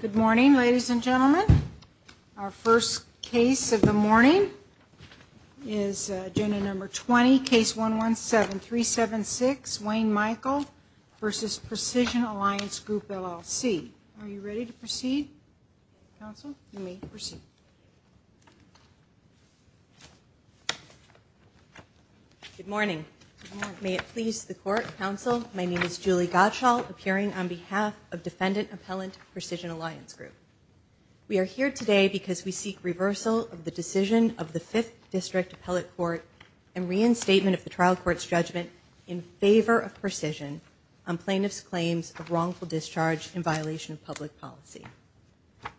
Good morning, ladies and gentlemen. Our first case of the morning is agenda number 20, case 117-376, Wayne Michael v. Precision Alliance Group, LLC. Are you ready to proceed, counsel? You may proceed. Good morning. May it please the court, counsel, my name is Julie Gottschall, appearing on behalf of Defendant Appellant Precision Alliance Group. We are here today because we seek reversal of the decision of the Fifth District Appellate Court and reinstatement of the trial court's judgment in favor of precision on plaintiff's claims of wrongful discharge in violation of public policy.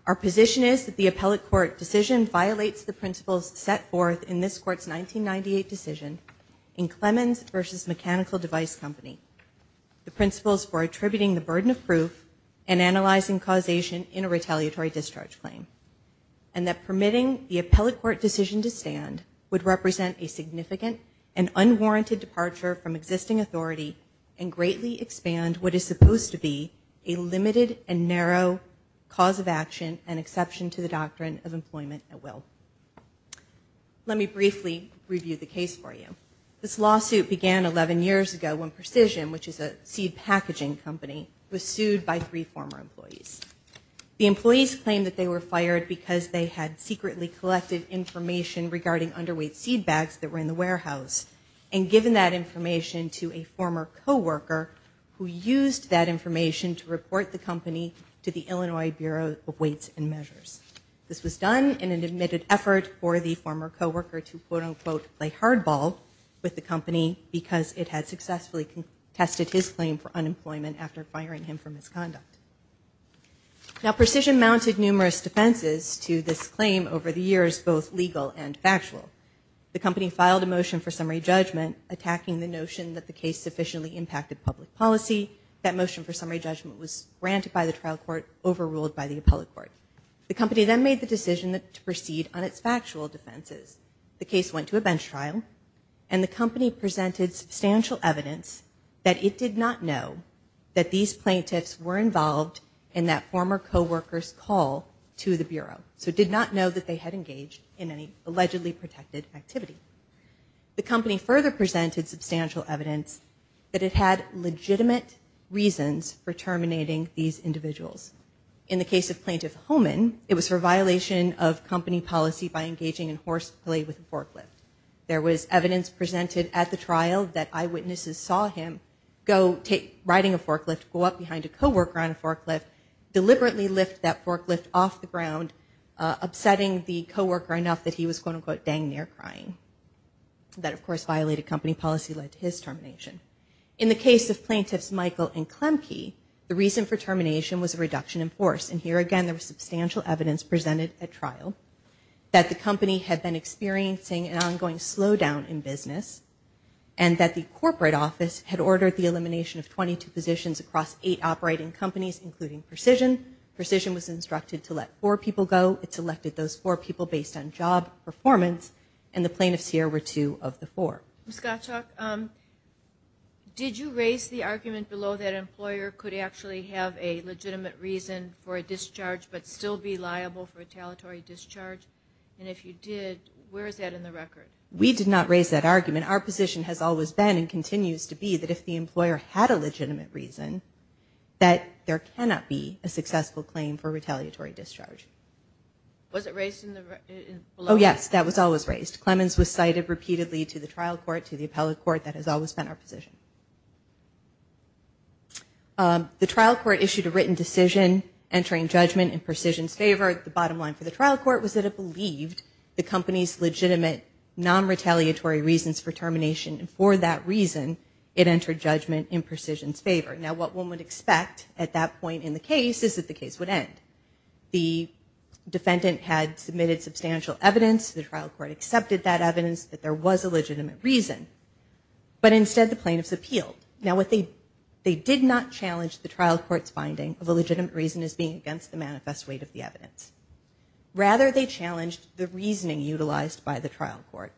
Our position is that the appellate court decision violates the principles set forth in this court's 1998 decision in Clemens v. Mechanical Device Company, the principles for attributing the burden of proof and analyzing causation in a retaliatory discharge claim, and that permitting the appellate court decision to stand would represent a significant and unwarranted departure from existing authority and greatly expand what is supposed to be a limited and narrow cause of action and exception to the doctrine of employment at will. Let me briefly review the case for you. This lawsuit began 11 years ago when Precision, which is a seed packaging company, was sued by three former employees. The employees claimed that they were fired because they had secretly collected information regarding underweight seed bags that were in the warehouse, and given that information to a former co-worker who used that information to report the company to the Illinois Bureau of Weights and Measures. This was done in an admitted effort for the former co-worker to, quote-unquote, play hardball with the company because it had successfully contested his claim for unemployment after firing him for misconduct. Now, Precision mounted numerous defenses to this claim over the years, both legal and factual. The company filed a motion for summary judgment attacking the notion that the case sufficiently impacted public policy. That motion for summary judgment was granted by the trial court, overruled by the appellate court. The company then made the decision to proceed on its factual defenses. The case went to a bench trial, and the company presented substantial evidence that it did not know that these plaintiffs were involved in that former co-worker's call to the Bureau. So it did not know that they had engaged in any allegedly protected activity. The company further presented substantial evidence that it had legitimate reasons for terminating these individuals. In the case of Plaintiff Homan, it was for violation of company policy by engaging in horse play with a forklift. There was evidence presented at the trial that eyewitnesses saw him go riding a forklift, go up behind a co-worker on a forklift, deliberately lift that forklift off the ground, upsetting the co-worker enough that he was, quote-unquote, dang near crying. That, of course, violated company policy, led to his termination. In the case of Plaintiffs Michael and Klemke, the reason for termination was a reduction in force. And here again, there was substantial evidence presented at trial that the company had been experiencing an ongoing slowdown in business, and that the corporate office had ordered the elimination of 22 positions across eight operating companies, including Precision. Precision was instructed to let four people go. It selected those four people based on job performance, and the plaintiffs here were two of the four. Ms. Gottschalk, did you raise the argument below that an employer could actually have a legitimate reason for a discharge but still be liable for a talentory discharge? We did not raise that argument. Our position has always been and continues to be that if the employer had a legitimate reason, that there cannot be a successful claim for retaliatory discharge. Was it raised in the below? Oh, yes, that was always raised. Clemens was cited repeatedly to the trial court, to the appellate court. That has always been our position. The trial court issued a written decision entering judgment in Precision's favor. The bottom line for the trial court was that it believed the company's legitimate non-retaliatory reasons for termination, and for that reason, it entered judgment in Precision's favor. Now, what one would expect at that point in the case is that the case would end. The defendant had submitted substantial evidence. The trial court accepted that evidence, that there was a legitimate reason. But instead, the plaintiffs appealed. Now, they did not challenge the trial court's finding of a legitimate reason as being against the manifest weight of the evidence. Rather, they challenged the reasoning utilized by the trial court.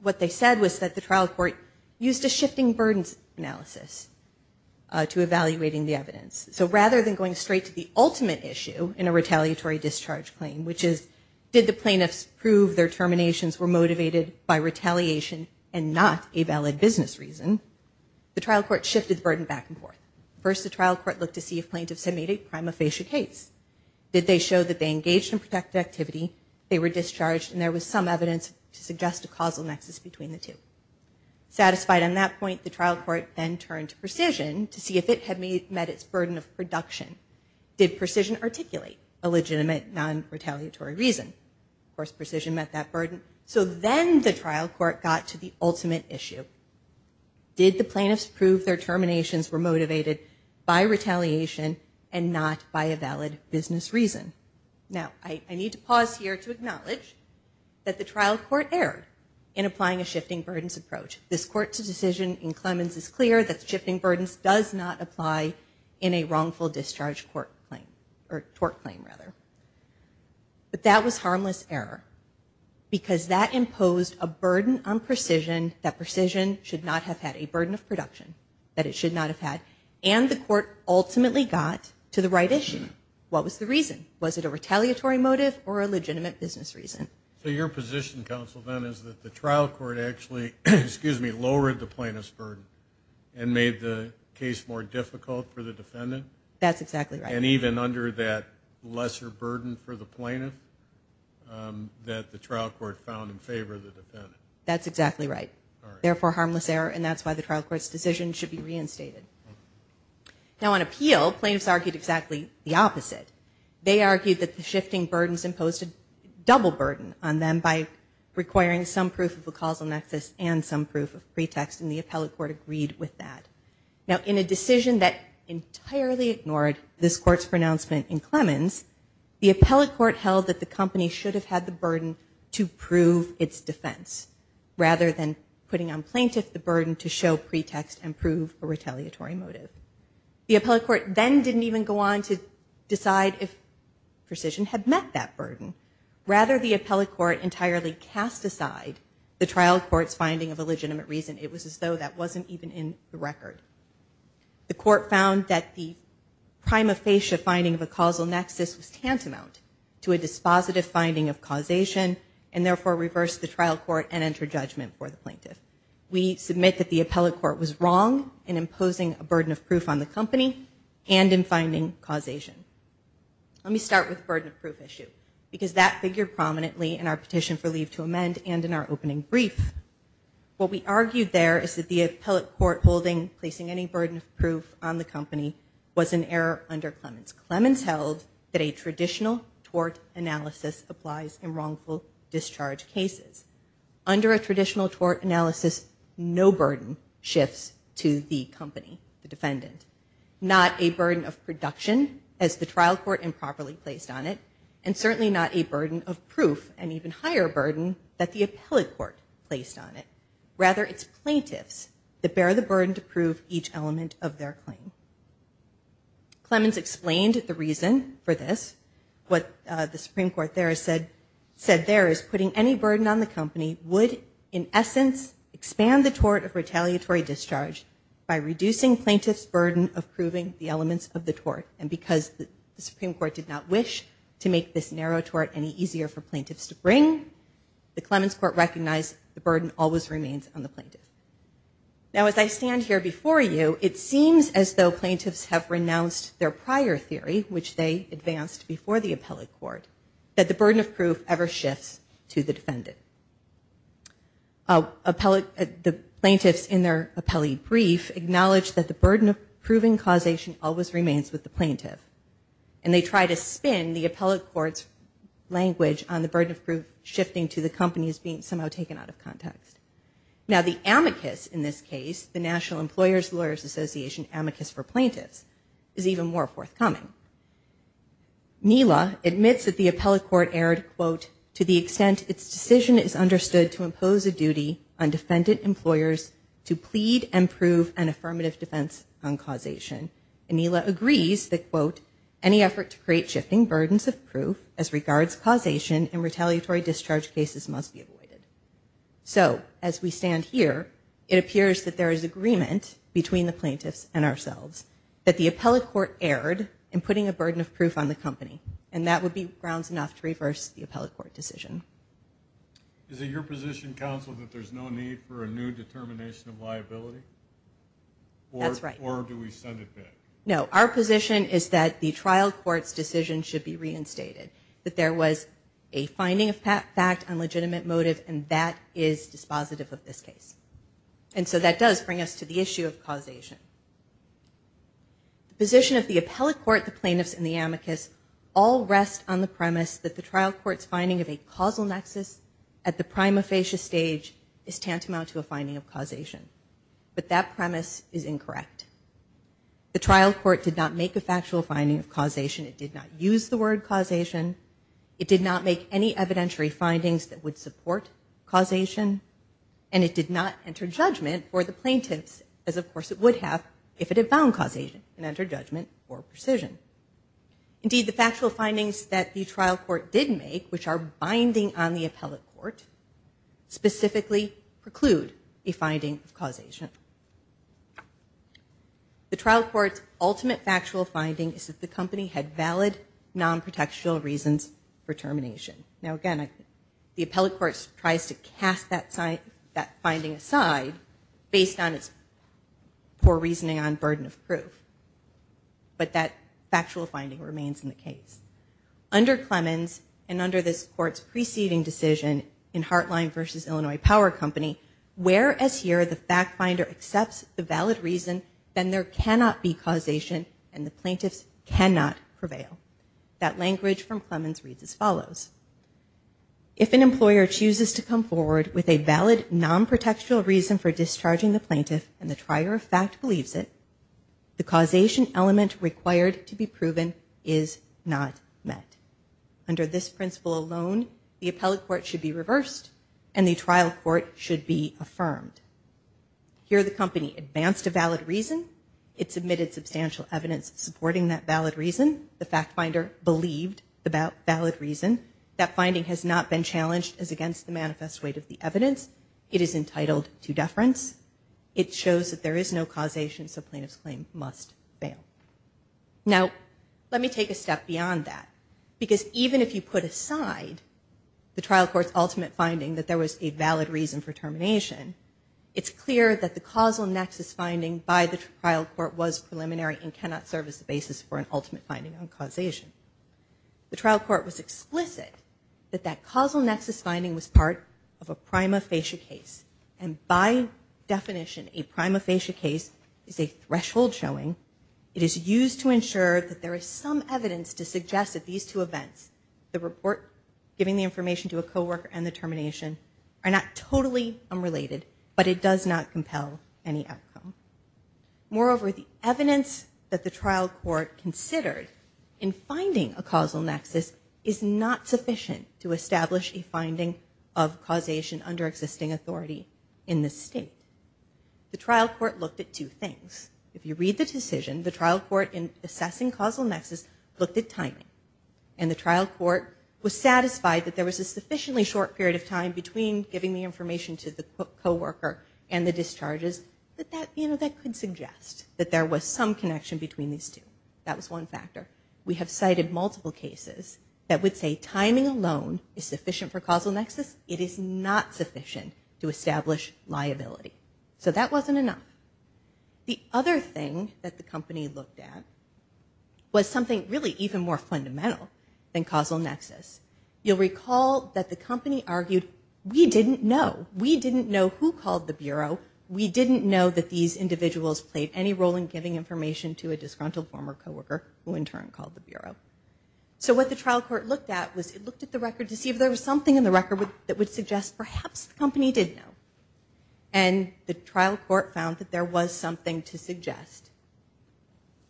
What they said was that the trial court used a shifting burdens analysis to evaluating the evidence. So rather than going straight to the ultimate issue in a retaliatory discharge claim, which is did the plaintiffs prove their terminations were motivated by retaliation and not a valid business reason, the trial court shifted the burden back and forth. First, the trial court looked to see if plaintiffs had made a prima facie case. Did they show that they engaged in protective activity, they were discharged, and there was some evidence to suggest a causal nexus between the two? Satisfied on that point, the trial court then turned to Precision to see if it had met its burden of production. Did Precision articulate a legitimate non-retaliatory reason? Of course, Precision met that burden. So then the trial court got to the ultimate issue. Did the plaintiffs prove their terminations were motivated by retaliation and not by a valid business reason? Now, I need to pause here to acknowledge that the trial court erred in applying a shifting burdens approach. This court's decision in Clemens is clear that shifting burdens does not apply in a wrongful discharge court claim, or tort claim, rather. But that was harmless error because that imposed a burden on Precision that Precision should not have had, a burden of production that it should not have had, and the court ultimately got to the right issue. What was the reason? Was it a retaliatory motive or a legitimate business reason? So your position, counsel, then, is that the trial court actually, excuse me, lowered the plaintiff's burden and made the case more difficult for the defendant? That's exactly right. And even under that lesser burden for the plaintiff that the trial court found in favor of the defendant? That's exactly right. Therefore, harmless error, and that's why the trial court's decision should be reinstated. Now, on appeal, plaintiffs argued exactly the opposite. They argued that the shifting burdens imposed a double burden on them by requiring some proof of a causal nexus and some proof of pretext, and the appellate court agreed with that. Now, in a decision that entirely ignored this court's pronouncement in Clemens, the appellate court held that the company should have had the burden to prove its defense, rather than putting on plaintiff the burden to show pretext and prove a retaliatory motive. The appellate court then didn't even go on to decide if precision had met that burden. Rather, the appellate court entirely cast aside the trial court's finding of a legitimate reason. It was as though that wasn't even in the record. The court found that the prima facie finding of a causal nexus was tantamount to a dispositive finding of causation and, therefore, reversed the trial court and entered judgment for the plaintiff. We submit that the appellate court was wrong in imposing a burden of proof on the company and in finding causation. Let me start with the burden of proof issue, because that figured prominently in our petition for leave to amend and in our opening brief. What we argued there is that the appellate court holding placing any burden of proof on the company was an error under Clemens. Clemens held that a traditional tort analysis applies in wrongful discharge cases. Under a traditional tort analysis, no burden shifts to the company, the defendant. Not a burden of production, as the trial court improperly placed on it, and certainly not a burden of proof, an even higher burden that the appellate court placed on it. Rather, it's plaintiffs that bear the burden to prove each element of their claim. Clemens explained the reason for this. What the Supreme Court there said there is putting any burden on the company would, in essence, expand the tort of retaliatory discharge by reducing plaintiffs' burden of proving the elements of the tort. And because the Supreme Court did not wish to make this narrow tort any easier for plaintiffs to bring, the Clemens court recognized the burden always remains on the plaintiff. Now, as I stand here before you, it seems as though plaintiffs have renounced their prior theory, which they advanced before the appellate court, that the burden of proof ever shifts to the defendant. The plaintiffs in their appellee brief acknowledge that the burden of proving causation always remains with the plaintiff, and they try to spin the appellate court's language on the burden of proof shifting to the companies being somehow taken out of context. Now, the amicus in this case, the National Employers Lawyers Association amicus for plaintiffs, is even more forthcoming. Neela admits that the appellate court erred, quote, to the extent its decision is understood to impose a duty on defendant employers to plead and prove an affirmative defense on causation. And Neela agrees that, quote, any effort to create shifting burdens of proof as regards causation in retaliatory discharge cases must be avoided. So, as we stand here, it appears that there is agreement between the plaintiffs and ourselves that the appellate court erred in putting a burden of proof on the company, and that would be grounds enough to reverse the appellate court decision. Is it your position, counsel, that there's no need for a new determination of liability? That's right. Or do we send it back? No, our position is that the trial court's decision should be reinstated, that there was a finding of fact on legitimate motive, and that is dispositive of this case. And so that does bring us to the issue of causation. The position of the appellate court, the plaintiffs, and the amicus all rest on the premise that the trial court's finding of a causal nexus at the prima facie stage is tantamount to a finding of causation. But that premise is incorrect. The trial court did not make a factual finding of causation. It did not use the word causation. It did not make any evidentiary findings that would support causation. And it did not enter judgment for the plaintiffs, as of course it would have if it had found causation and entered judgment for precision. Indeed, the factual findings that the trial court did make, which are binding on the appellate court, specifically preclude a finding of causation. The trial court's ultimate factual finding is that the company had valid non-protectional reasons for termination. Now again, the appellate court tries to cast that finding aside based on its poor reasoning on burden of proof. But that factual finding remains in the case. Under Clemens and under this court's preceding decision in Hartline v. Illinois Power Company, where as here the fact finder accepts the valid reason, then there cannot be causation and the plaintiffs cannot prevail. That language from Clemens reads as follows. If an employer chooses to come forward with a valid non-protectional reason for discharging the plaintiff and the trier of fact believes it, the causation element required to be proven is not met. Under this principle alone, the appellate court should be reversed and the trial court should be affirmed. Here the company advanced a valid reason. It submitted substantial evidence supporting that valid reason. The fact finder believed the valid reason. That finding has not been challenged as against the manifest weight of the evidence. It is entitled to deference. It shows that there is no causation so plaintiff's claim must fail. Now let me take a step beyond that because even if you put aside the trial court's ultimate finding that there was a valid reason for termination, it's clear that the causal nexus finding by the trial court was preliminary and cannot serve as the basis for an ultimate finding on causation. The trial court was explicit that that causal nexus finding was part of a prima facie case and by definition a prima facie case is a threshold showing. It is used to ensure that there is some evidence to suggest that these two events, the report giving the information to a co-worker and the termination, are not totally unrelated but it does not compel any outcome. Moreover, the evidence that the trial court considered in finding a causal nexus is not sufficient to establish a finding of causation under existing authority in this state. The trial court looked at two things. If you read the decision, the trial court in assessing causal nexus looked at timing and the trial court was satisfied that there was a sufficiently short period of time between giving the information to the co-worker and the discharges that could suggest that there was some connection between these two. That was one factor. We have cited multiple cases that would say timing alone is sufficient for causal nexus. It is not sufficient to establish liability. So that wasn't enough. The other thing that the company looked at was something really even more fundamental than causal nexus. You'll recall that the company argued, we didn't know. We didn't know who called the Bureau. We didn't know that these individuals played any role in giving information to a disgruntled former co-worker who in turn called the Bureau. So what the trial court looked at was it looked at the record to see if there was something in the record that would suggest perhaps the company did know. And the trial court found that there was something to suggest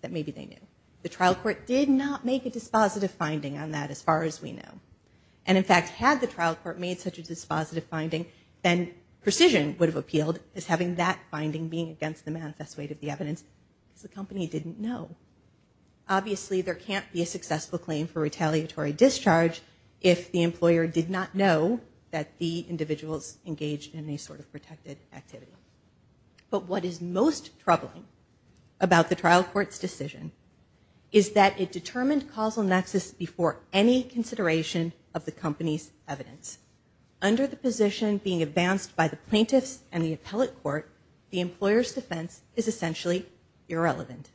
that maybe they knew. The trial court did not make a dispositive finding on that as far as we know. And in fact, had the trial court made such a dispositive finding, then precision would have appealed as having that finding being against the manifest weight of the evidence because the company didn't know. Obviously, there can't be a successful claim for retaliatory discharge if the employer did not know that the individuals engaged in any sort of protected activity. But what is most troubling about the trial court's decision is that it determined causal nexus before any consideration of the company's evidence. Under the position being advanced by the plaintiffs and the appellate court, the employer's defense is essentially irrelevant.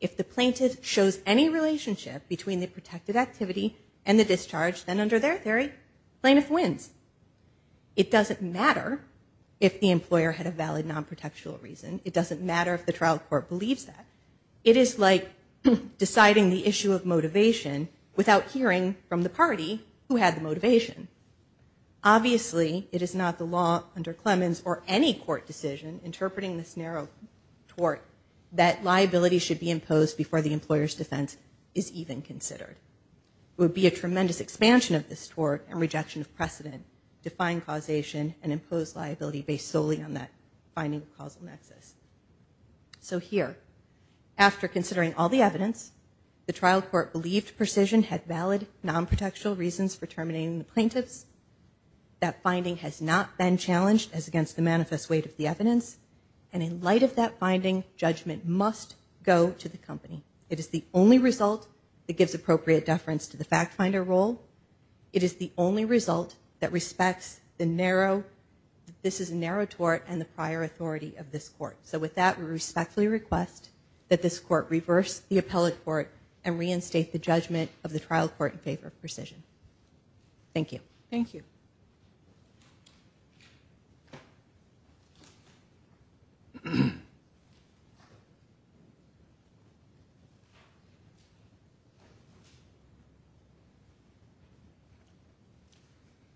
If the plaintiff shows any relationship between the protected activity and the discharge, then under their theory, the plaintiff wins. It doesn't matter if the employer had a valid non-protectional reason. It doesn't matter if the trial court believes that. It is like deciding the issue of motivation without hearing from the party who had the motivation. Obviously, it is not the law under Clemens or any court decision interpreting this narrow tort that liability should be imposed before the employer's defense is even considered. It would be a tremendous expansion of this tort and rejection of precedent to find causation and impose liability based solely on that finding of causal nexus. So here, after considering all the evidence, the trial court believed Precision had valid non-protectional reasons for terminating the plaintiffs. That finding has not been challenged as against the manifest weight of the evidence. And in light of that finding, judgment must go to the company. It is the only result that gives appropriate deference to the fact finder role. It is the only result that respects the narrow, this is a narrow tort and the prior authority of this court. So with that, we respectfully request that this court reverse the appellate court and reinstate the judgment of the trial court in favor of Precision. Thank you. Thank you.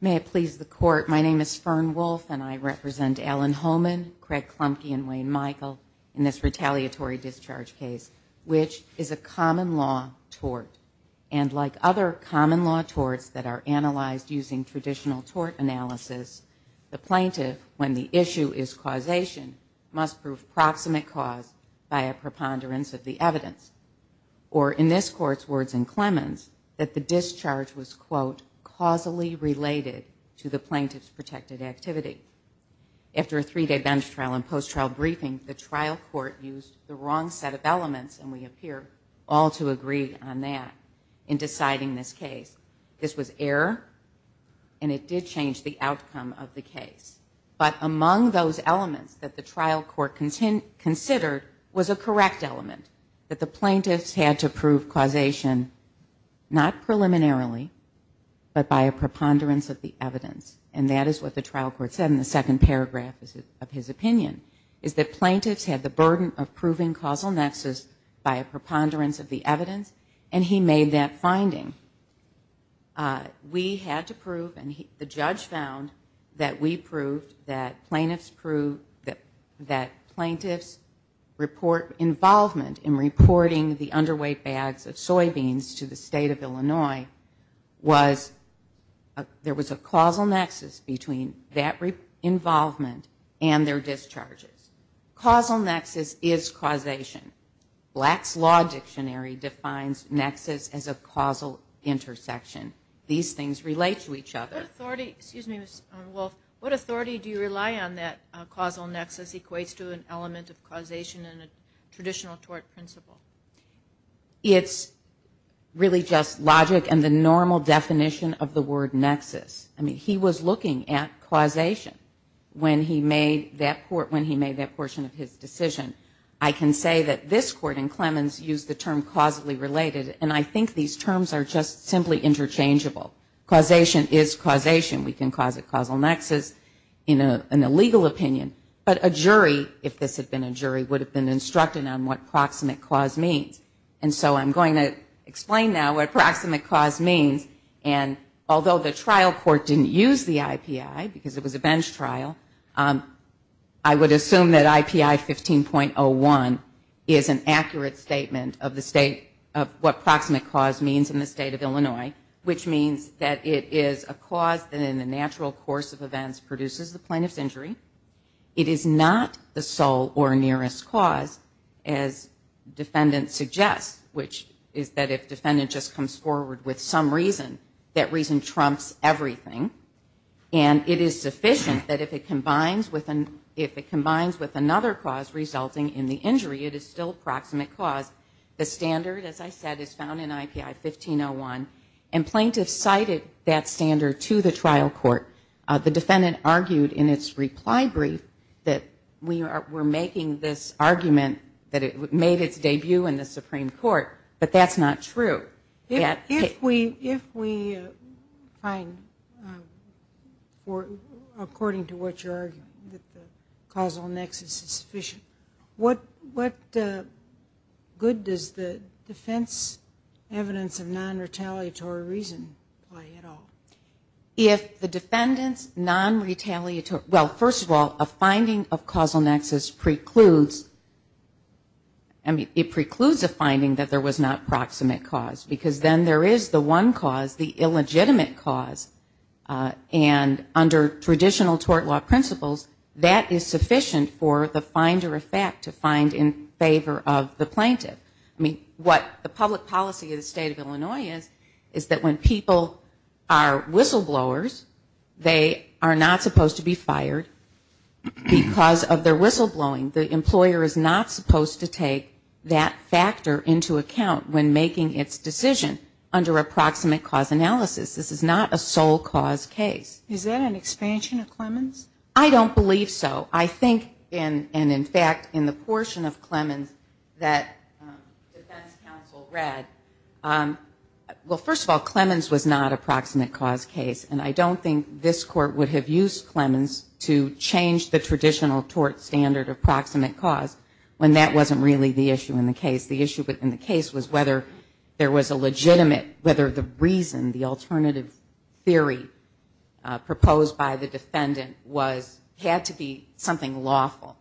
May it please the court, my name is Fern Wolf and I represent Alan Holman, Craig Klumke, and Wayne Michael in this retaliatory discharge case, which is a common law tort. And like other common law torts that are analyzed using traditional tort analysis, the plaintiff, when the issue is causation, must prove proximate cause by a preponderance of the evidence. Or in this court's words in Clemens, that the discharge was, quote, causally related to the plaintiff's protected activity. After a three-day bench trial and post-trial briefing, the trial court used the wrong set of elements, and we appear all to agree on that, in deciding this case. This was error and it did change the outcome of the case. But among those elements that the trial court considered was a correct element, that the plaintiffs had to prove causation, not preliminarily, but by a preponderance of the evidence. And that is what the trial court said in the second paragraph of his opinion, is that plaintiffs had the burden of proving causal nexus by a preponderance of the evidence, and he made that finding. We had to prove, and the judge found, that we proved, that plaintiffs proved, that plaintiffs' involvement in reporting the underweight bags of soybeans to the state of Illinois was, there was a causal nexus between that involvement and their discharges. Causal nexus is causation. Black's Law Dictionary defines nexus as a causal intersection. These things relate to each other. What authority do you rely on that causal nexus equates to an element of causation in a traditional tort principle? It's really just logic and the normal definition of the word nexus. I mean, he was looking at causation when he made that portion of his decision. I can say that this court in Clemens used the term causally related, and I think these terms are just simply interchangeable. Causation is causation. We can cause a causal nexus in a legal opinion, but a jury, if this had been a jury, would have been instructed on what proximate cause means. And so I'm going to explain now what proximate cause means, and although the trial court didn't use the IPI because it was a bench trial, I would assume that IPI 15.01 is an accurate statement of what proximate cause means in the state of Illinois, which means that it is a cause that in the natural course of events produces the plaintiff's injury. It is not the sole or nearest cause, as defendant suggests, which is that if defendant just comes forward with some reason, that reason trumps everything. And it is sufficient that if it combines with another cause resulting in the injury, it is still proximate cause. The standard, as I said, is found in IPI 15.01, and plaintiffs cited that standard to the trial court. The defendant argued in its reply brief that we're making this argument that it made its debut in the Supreme Court, but that's not true. If we find, according to what you're arguing, that the causal nexus is sufficient, what good does the defense evidence of non-retaliatory reason play at all? If the defendant's non-retaliatory, well, first of all, a finding of causal nexus precludes, I mean, it precludes a finding that there was not proximate cause, because then there is the one cause, the illegitimate cause. And under traditional tort law principles, that is sufficient for the finder of fact to find in favor of the plaintiff. I mean, what the public policy of the State of Illinois is, is that when people are whistleblowers, they are not supposed to be fired. Because of their whistleblowing, the employer is not supposed to take that factor into account when making its decision under a proximate cause analysis. This is not a sole cause case. Is that an expansion of Clemens? I don't believe so. I think, and in fact, in the portion of Clemens that defense counsel read, well, first of all, Clemens was not a proximate cause case. And I don't think this Court would have used Clemens to change the traditional tort standard of proximate cause when that wasn't really the issue in the case. The issue in the case was whether there was a legitimate, whether the reason, the alternative theory proposed by the defendant was, had to be something lawful.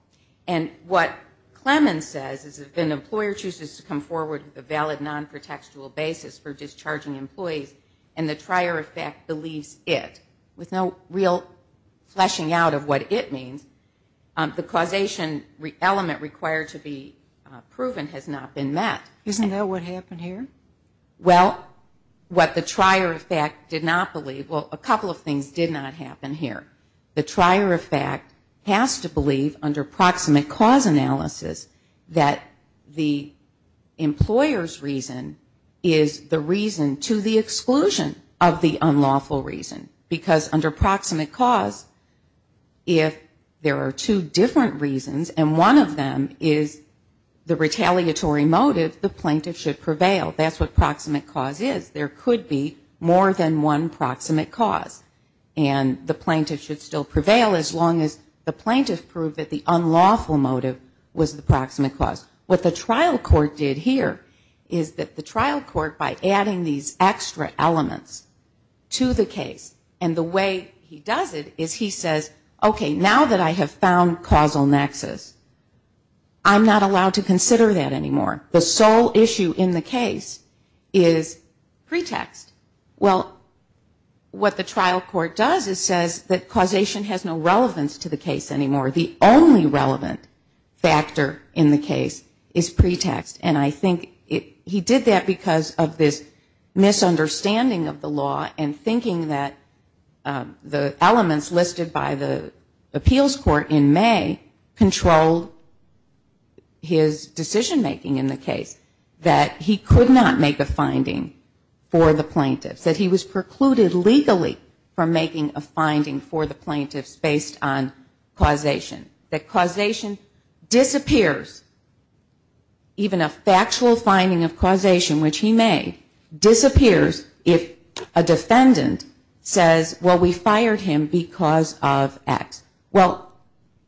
And what Clemens says is if an employer chooses to come forward with a valid non-protextual basis for discharging employees, and the trier of fact believes it, with no real fleshing out of what it means, the causation element required to be proven has not been met. Isn't that what happened here? Well, what the trier of fact did not believe, well, a couple of things did not happen here. The trier of fact has to believe under proximate cause analysis that the employer's reason is the reason to the exclusion of the unlawful reason. Because under proximate cause, if there are two different reasons, and one of them is the retaliatory motive, the plaintiff should prevail. That's what proximate cause is. There could be more than one proximate cause. And the plaintiff should still prevail as long as the plaintiff proved that the unlawful motive was the proximate cause. What the trial court did here is that the trial court, by adding these extra elements to the case, and the way he does it is he says, okay, now that I have found causal nexus, I'm not allowed to consider that anymore. The sole issue in the case is pretext. Well, what the trial court does is says that causation has no relevance to the case anymore. The only relevant factor in the case is pretext. And I think he did that because of this misunderstanding of the law and thinking that the elements listed by the appeals court in May controlled his decision making in the case, that he could not make a finding for the plaintiffs, that he was precluded legally from making a finding for the plaintiffs based on causation. That causation disappears, even a factual finding of causation, which he made, disappears if a defendant says, well, we fired him because of X. Well,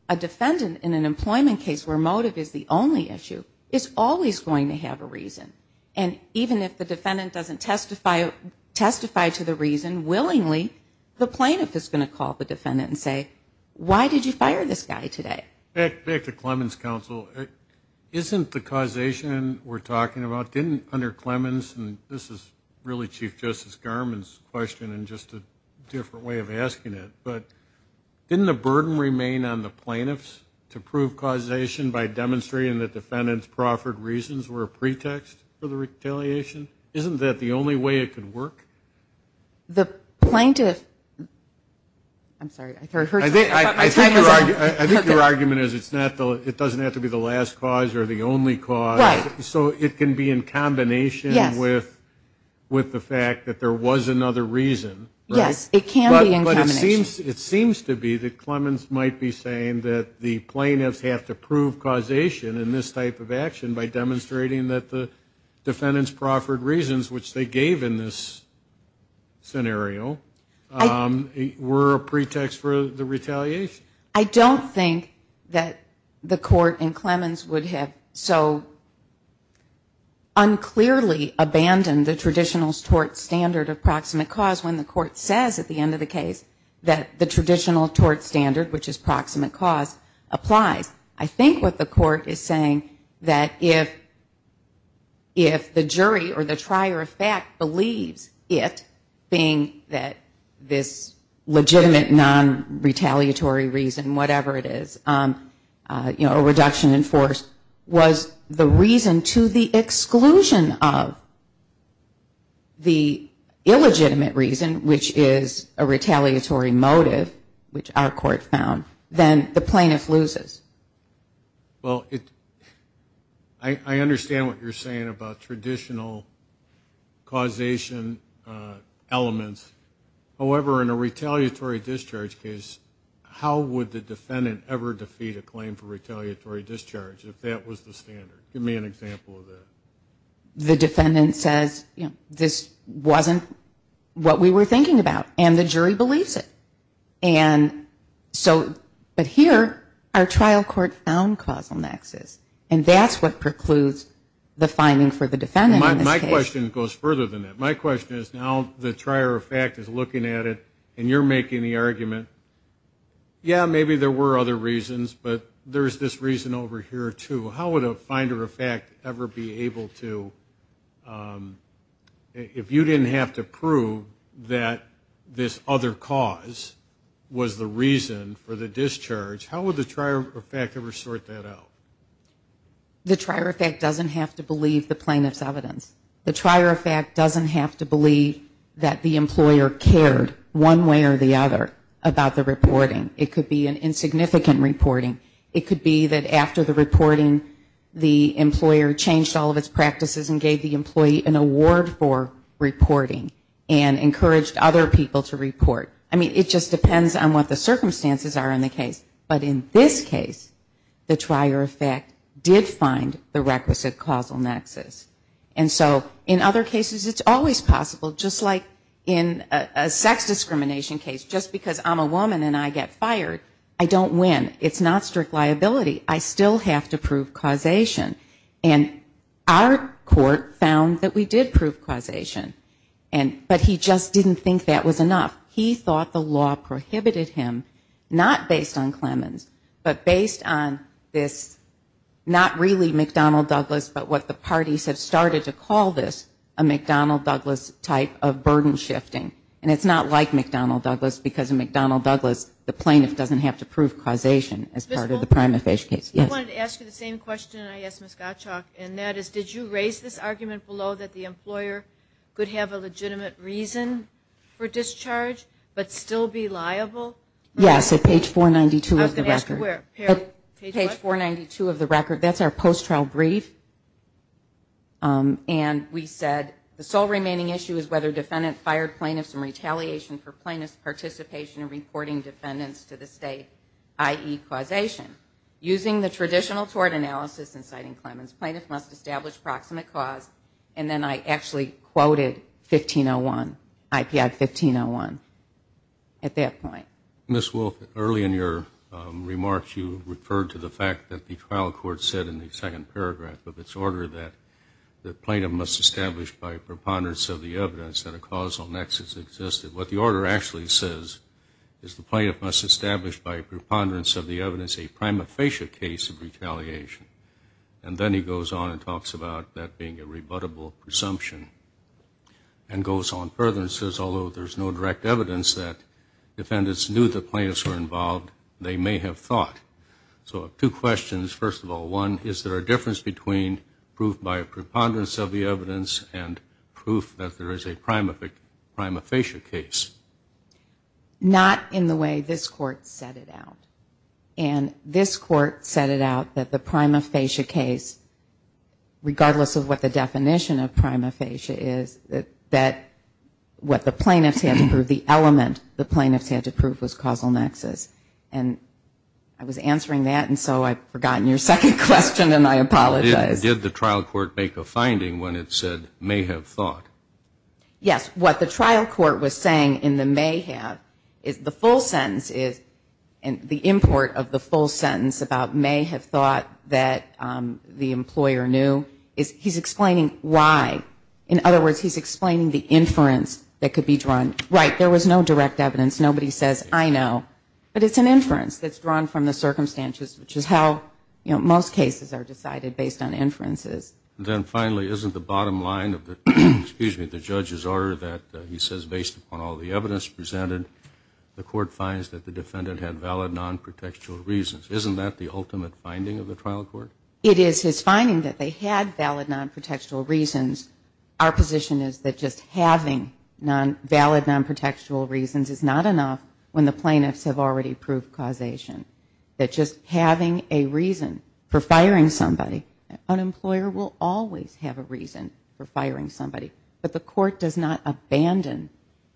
a defendant in an employment case where motive is the only issue is always going to have a reason. And even if the defendant doesn't testify to the reason, willingly the plaintiff is going to call the defendant and say, why did you fire this guy today? Back to Clemens' counsel. Isn't the causation we're talking about, didn't under Clemens, and this is really Chief Justice Garmon's question and just a different way of the burden remain on the plaintiffs to prove causation by demonstrating that defendant's proffered reasons were a pretext for the retaliation? Isn't that the only way it could work? The plaintiff, I'm sorry. I think your argument is it doesn't have to be the last cause or the only cause. Right. So it can be in combination with the fact that there was another reason. Yes, it can be in combination. But it seems to be that Clemens might be saying that the plaintiffs have to prove causation in this type of action by demonstrating that the defendant's proffered reasons, which they gave in this scenario, were a pretext for the retaliation. I don't think that the court in Clemens would have so unclearly abandoned the traditional tort standard of proximate cause when the court says at the end of the case that the traditional tort standard, which is proximate cause, applies. I think what the court is saying that if the jury or the trier of fact believes it, being that this legitimate non-retaliatory reason, whatever it is, a reduction in force, was the reason to the exclusion of the illegitimate reason, which is a retaliatory motive, which our court found, then the plaintiff loses. Well, I understand what you're saying about traditional causation elements. However, in a retaliatory discharge case, how would the defendant ever defeat a claim for retaliatory discharge if that was the standard? Give me an example of that. The defendant says, you know, this wasn't what we were thinking about. And the jury believes it. But here, our trial court found causal nexus. And that's what precludes the finding for the defendant in this case. My question goes further than that. My question is, now the trier of fact is looking at it, and you're making the argument, yeah, maybe there were other reasons, but there's this reason over here, too. How would a finder of fact ever be able to, if you didn't have to prove that this other cause was the reason for the discharge, how would the trier of fact ever sort that out? The trier of fact doesn't have to believe the plaintiff's evidence. The trier of fact doesn't have to believe that the employer cared one way or the other about the reporting. It could be an insignificant reporting. It could be that after the reporting, the employer changed all of its practices and gave the employee an award for reporting and encouraged other people to report. I mean, it just depends on what the circumstances are in the case. But in this case, the trier of fact did find the requisite causal nexus. And so in other cases, it's always possible, just like in a sex discrimination case, just because I'm a woman and I get fired, I don't win. It's not strict liability. I still have to prove causation. And our court found that we did prove causation, but he just didn't think that was enough. He thought the law prohibited him, not based on Clemens, but based on this not really McDonnell Douglas, but what the parties have started to call this, a McDonnell Douglas type of burden shifting. And it's not like McDonnell Douglas because in McDonnell Douglas, the plaintiff doesn't have to prove causation as part of the prima facie case. Yes? I wanted to ask you the same question I asked Ms. Gottschalk, and that is did you raise this argument below that the employer could have a legitimate reason for discharge but still be liable? Yes, at page 492 of the record. I was going to ask you where. Page what? 492 of the record. That's our post-trial brief. And we said the sole remaining issue is whether defendant fired plaintiff from retaliation for plaintiff's participation in reporting defendants to the state, i.e. causation. Using the traditional tort analysis in citing Clemens, plaintiff must establish proximate cause. And then I actually quoted 1501, IPI 1501 at that point. Ms. Wolfe, early in your remarks, you referred to the fact that the trial court said in the second paragraph of its order that the plaintiff must establish by preponderance of the evidence that a causal nexus existed. What the order actually says is the plaintiff must establish by preponderance of the evidence a prima facie case of retaliation. And then he goes on and talks about that being a rebuttable presumption and goes on further and says, although there's no direct evidence that defendants knew the plaintiffs were involved, they may have thought. So I have two questions. First of all, one, is there a difference between proof by preponderance of the evidence and proof that there is a prima facie case? Not in the way this court set it out. And this court set it out that the prima facie case, regardless of what the definition of prima facie is, that what the plaintiffs had to prove, the element the plaintiffs had to prove was causal nexus. And I was answering that, and so I've forgotten your second question, and I apologize. Did the trial court make a finding when it said may have thought? Yes. What the trial court was saying in the may have is the full sentence is, the import of the full sentence about may have thought that the employer knew, he's explaining why. In other words, he's explaining the inference that could be drawn. Right, there was no direct evidence. Nobody says, I know. But it's an inference that's drawn from the circumstances, which is how most cases are decided, based on inferences. Then finally, isn't the bottom line of the judge's order that he says, based upon all the evidence presented, the court finds that the defendant had valid non-protectual reasons. Isn't that the ultimate finding of the trial court? It is his finding that they had valid non-protectual reasons. Our position is that just having valid non-protectual reasons is not enough when the plaintiffs have already proved causation. That just having a reason for firing somebody, an employer will always have a reason for firing somebody. But the court does not abandon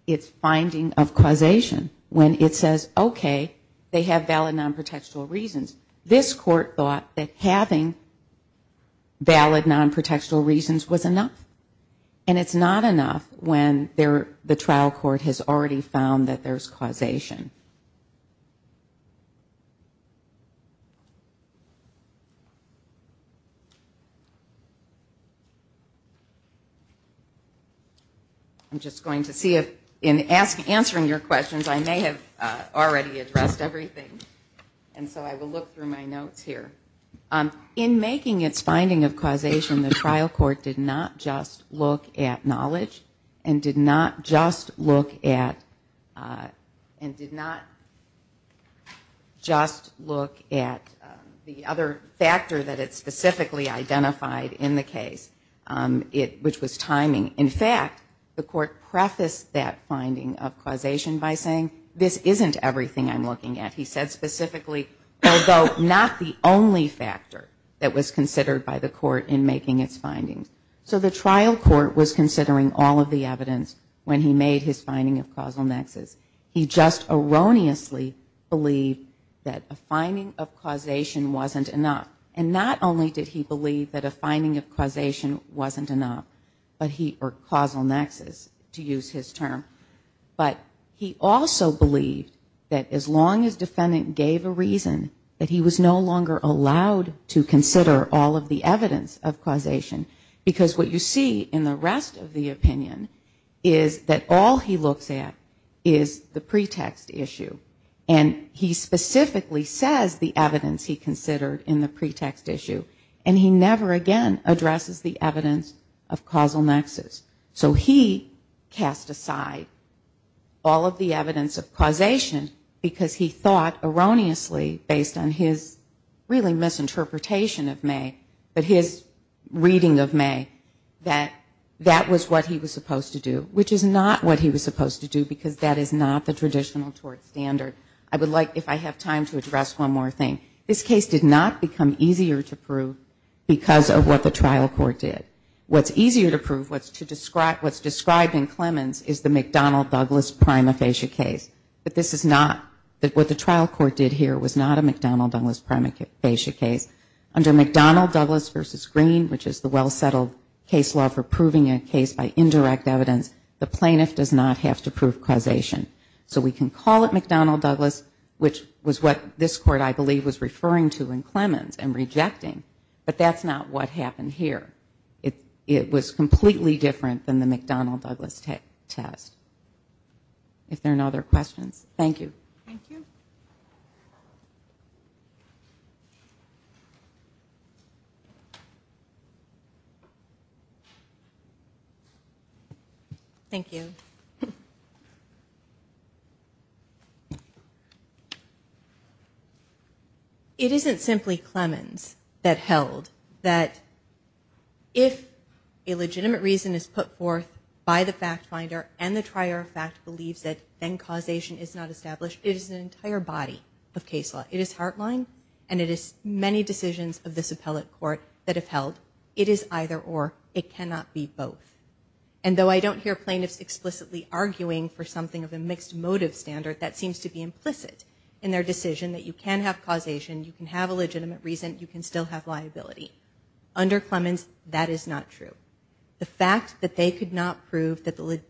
its finding of causation when it says, okay, they have valid non-protectual reasons. This court thought that having valid non-protectual reasons was enough. And it's not enough when the trial court has already found that there's causation. I'm just going to see if in answering your questions, I may have already addressed everything. And so I will look through my notes here. In making its finding of causation, the trial court did not just look at knowledge and did not just look at the other factor that it specifically identified in the case, which was timing. In fact, the court prefaced that finding of causation by saying, this isn't everything I'm looking at. He said specifically, although not the only factor that was considered by the court in making its findings. So the trial court was considering all of the evidence when he made his finding of causal nexus. He just erroneously believed that a finding of causation wasn't enough. And not only did he believe that a finding of causation wasn't enough, or causal nexus, to use his term, but he also believed that as long as defendant gave a reason, that he was no longer allowed to consider all of the evidence of causation. Because what you see in the rest of the opinion is that all he looks at is the pretext issue. And he specifically says the evidence he considered in the pretext issue. And he never again addresses the evidence of causal nexus. So he cast aside all of the evidence of causation because he thought erroneously, based on his really misinterpretation of May, but his reading of May, that that was what he was supposed to do, which is not what he was supposed to do, because that is not the traditional tort standard. I would like, if I have time, to address one more thing. This case did not become easier to prove because of what the trial court did. What's easier to prove, what's described in Clemens, is the McDonnell-Douglas prima facie case. But this is not, what the trial court did here, was not a McDonnell-Douglas prima facie case. Under McDonnell-Douglas v. Green, which is the well-settled case law for proving a case by indirect evidence, the plaintiff does not have to prove causation. So we can call it McDonnell-Douglas, which was what this court, I believe, was referring to in Clemens, and rejecting, but that's not what happened here. It was completely different than the McDonnell-Douglas test. If there are no other questions, thank you. Thank you. Thank you. It isn't simply Clemens that held that if a legitimate reason is put forth by the fact finder and the trier of fact believes that then causation is not established. It is an entire body of case law. It is Heartline, and it is many decisions of this appellate court that have held. It is either or. It cannot be both. And though I don't hear plaintiffs explicitly arguing for something of a mixed motive standard, that seems to be implicit in their decision that you can have causation, you can have a legitimate reason, you can still have liability. Under Clemens, that is not true. The fact that they could not prove that the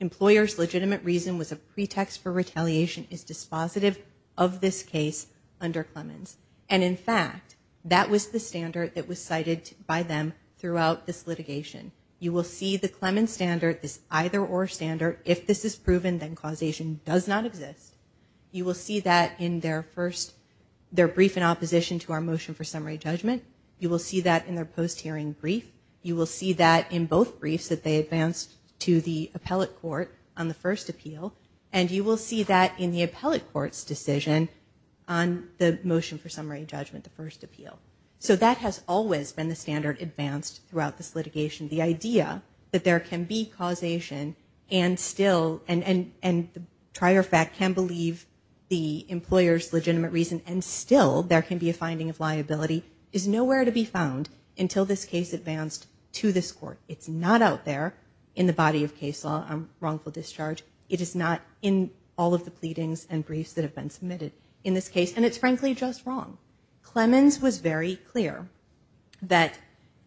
employer's legitimate reason was a pretext for retaliation is dispositive of this case under Clemens. And, in fact, that was the standard that was cited by them throughout this litigation. You will see the Clemens standard, this either or standard, if this is proven then causation does not exist. You will see that in their brief in opposition to our motion for summary judgment. You will see that in their post-hearing brief. You will see that in both briefs that they advanced to the appellate court on the first appeal. And you will see that in the appellate court's decision on the motion for summary judgment, the first appeal. So that has always been the standard advanced throughout this litigation. The idea that there can be causation and still, and the prior fact can believe the employer's legitimate reason and still there can be a finding of liability, is nowhere to be found until this case advanced to this court. It's not out there in the body of case law on wrongful discharge. It is not in all of the pleadings and briefs that have been submitted in this case. And it's frankly just wrong. Clemens was very clear that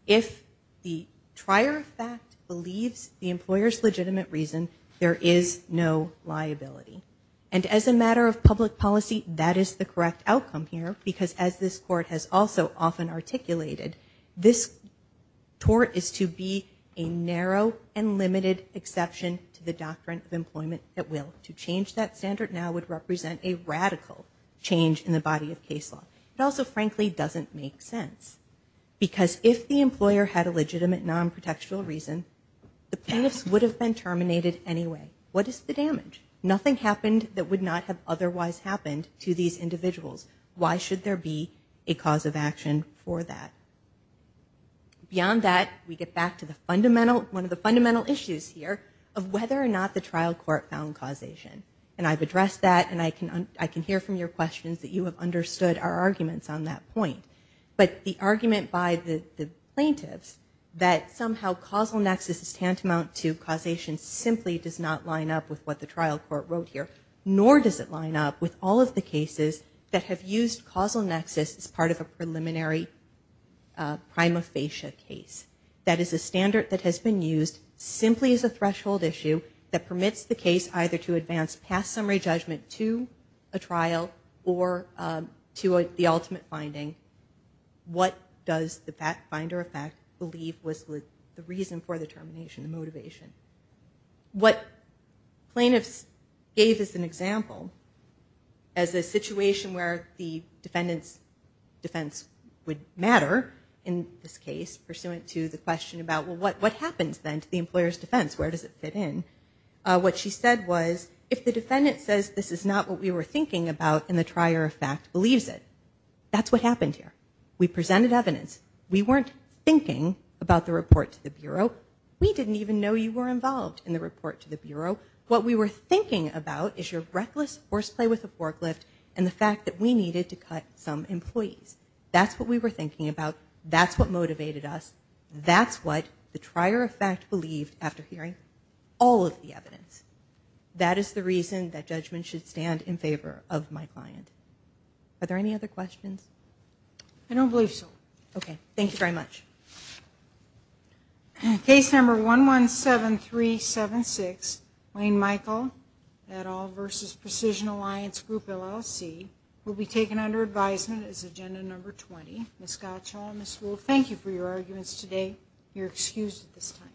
if the prior fact believes the employer's legitimate reason, there is no liability. And as a matter of public policy, that is the correct outcome here because as this court has also often articulated, this tort is to be a narrow and limited exception to the doctrine of employment at will. To change that standard now would represent a radical change in the body of case law. It also frankly doesn't make sense because if the employer had a legitimate non-protectual reason, the plaintiffs would have been terminated anyway. What is the damage? Nothing happened that would not have otherwise happened to these individuals. Why should there be a cause of action for that? Beyond that, we get back to one of the fundamental issues here of whether or not the trial court found causation. And I've addressed that and I can hear from your questions that you have understood our arguments on that point. But the argument by the plaintiffs that somehow causal nexus is tantamount to causation simply does not line up with what the trial court wrote here, nor does it line up with all of the cases that have used causal nexus as part of a preliminary prima facie case. That is a standard that has been used simply as a threshold issue that permits the case either to advance past summary judgment to a trial or to the ultimate finding. What does the finder of fact believe was the reason for the termination, the motivation? What plaintiffs gave as an example, as a situation where the defendant's defense would matter in this case, pursuant to the question about what happens then to the employer's defense, where does it fit in, what she said was, if the defendant says this is not what we were thinking about and the trier of fact believes it, that's what happened here. We presented evidence. We weren't thinking about the report to the Bureau. We didn't even know you were involved in the report to the Bureau. What we were thinking about is your reckless horseplay with a forklift and the fact that we needed to cut some employees. That's what we were thinking about. That's what motivated us. That's what the trier of fact believed after hearing all of the evidence. That is the reason that judgment should stand in favor of my client. Are there any other questions? I don't believe so. Okay. Thank you very much. Case number 117376, Wayne Michael, et al. versus Precision Alliance Group, LLC, will be taken under advisement as agenda number 20. Ms. Gottschall and Ms. Wolfe, thank you for your arguments today. You're excused at this time.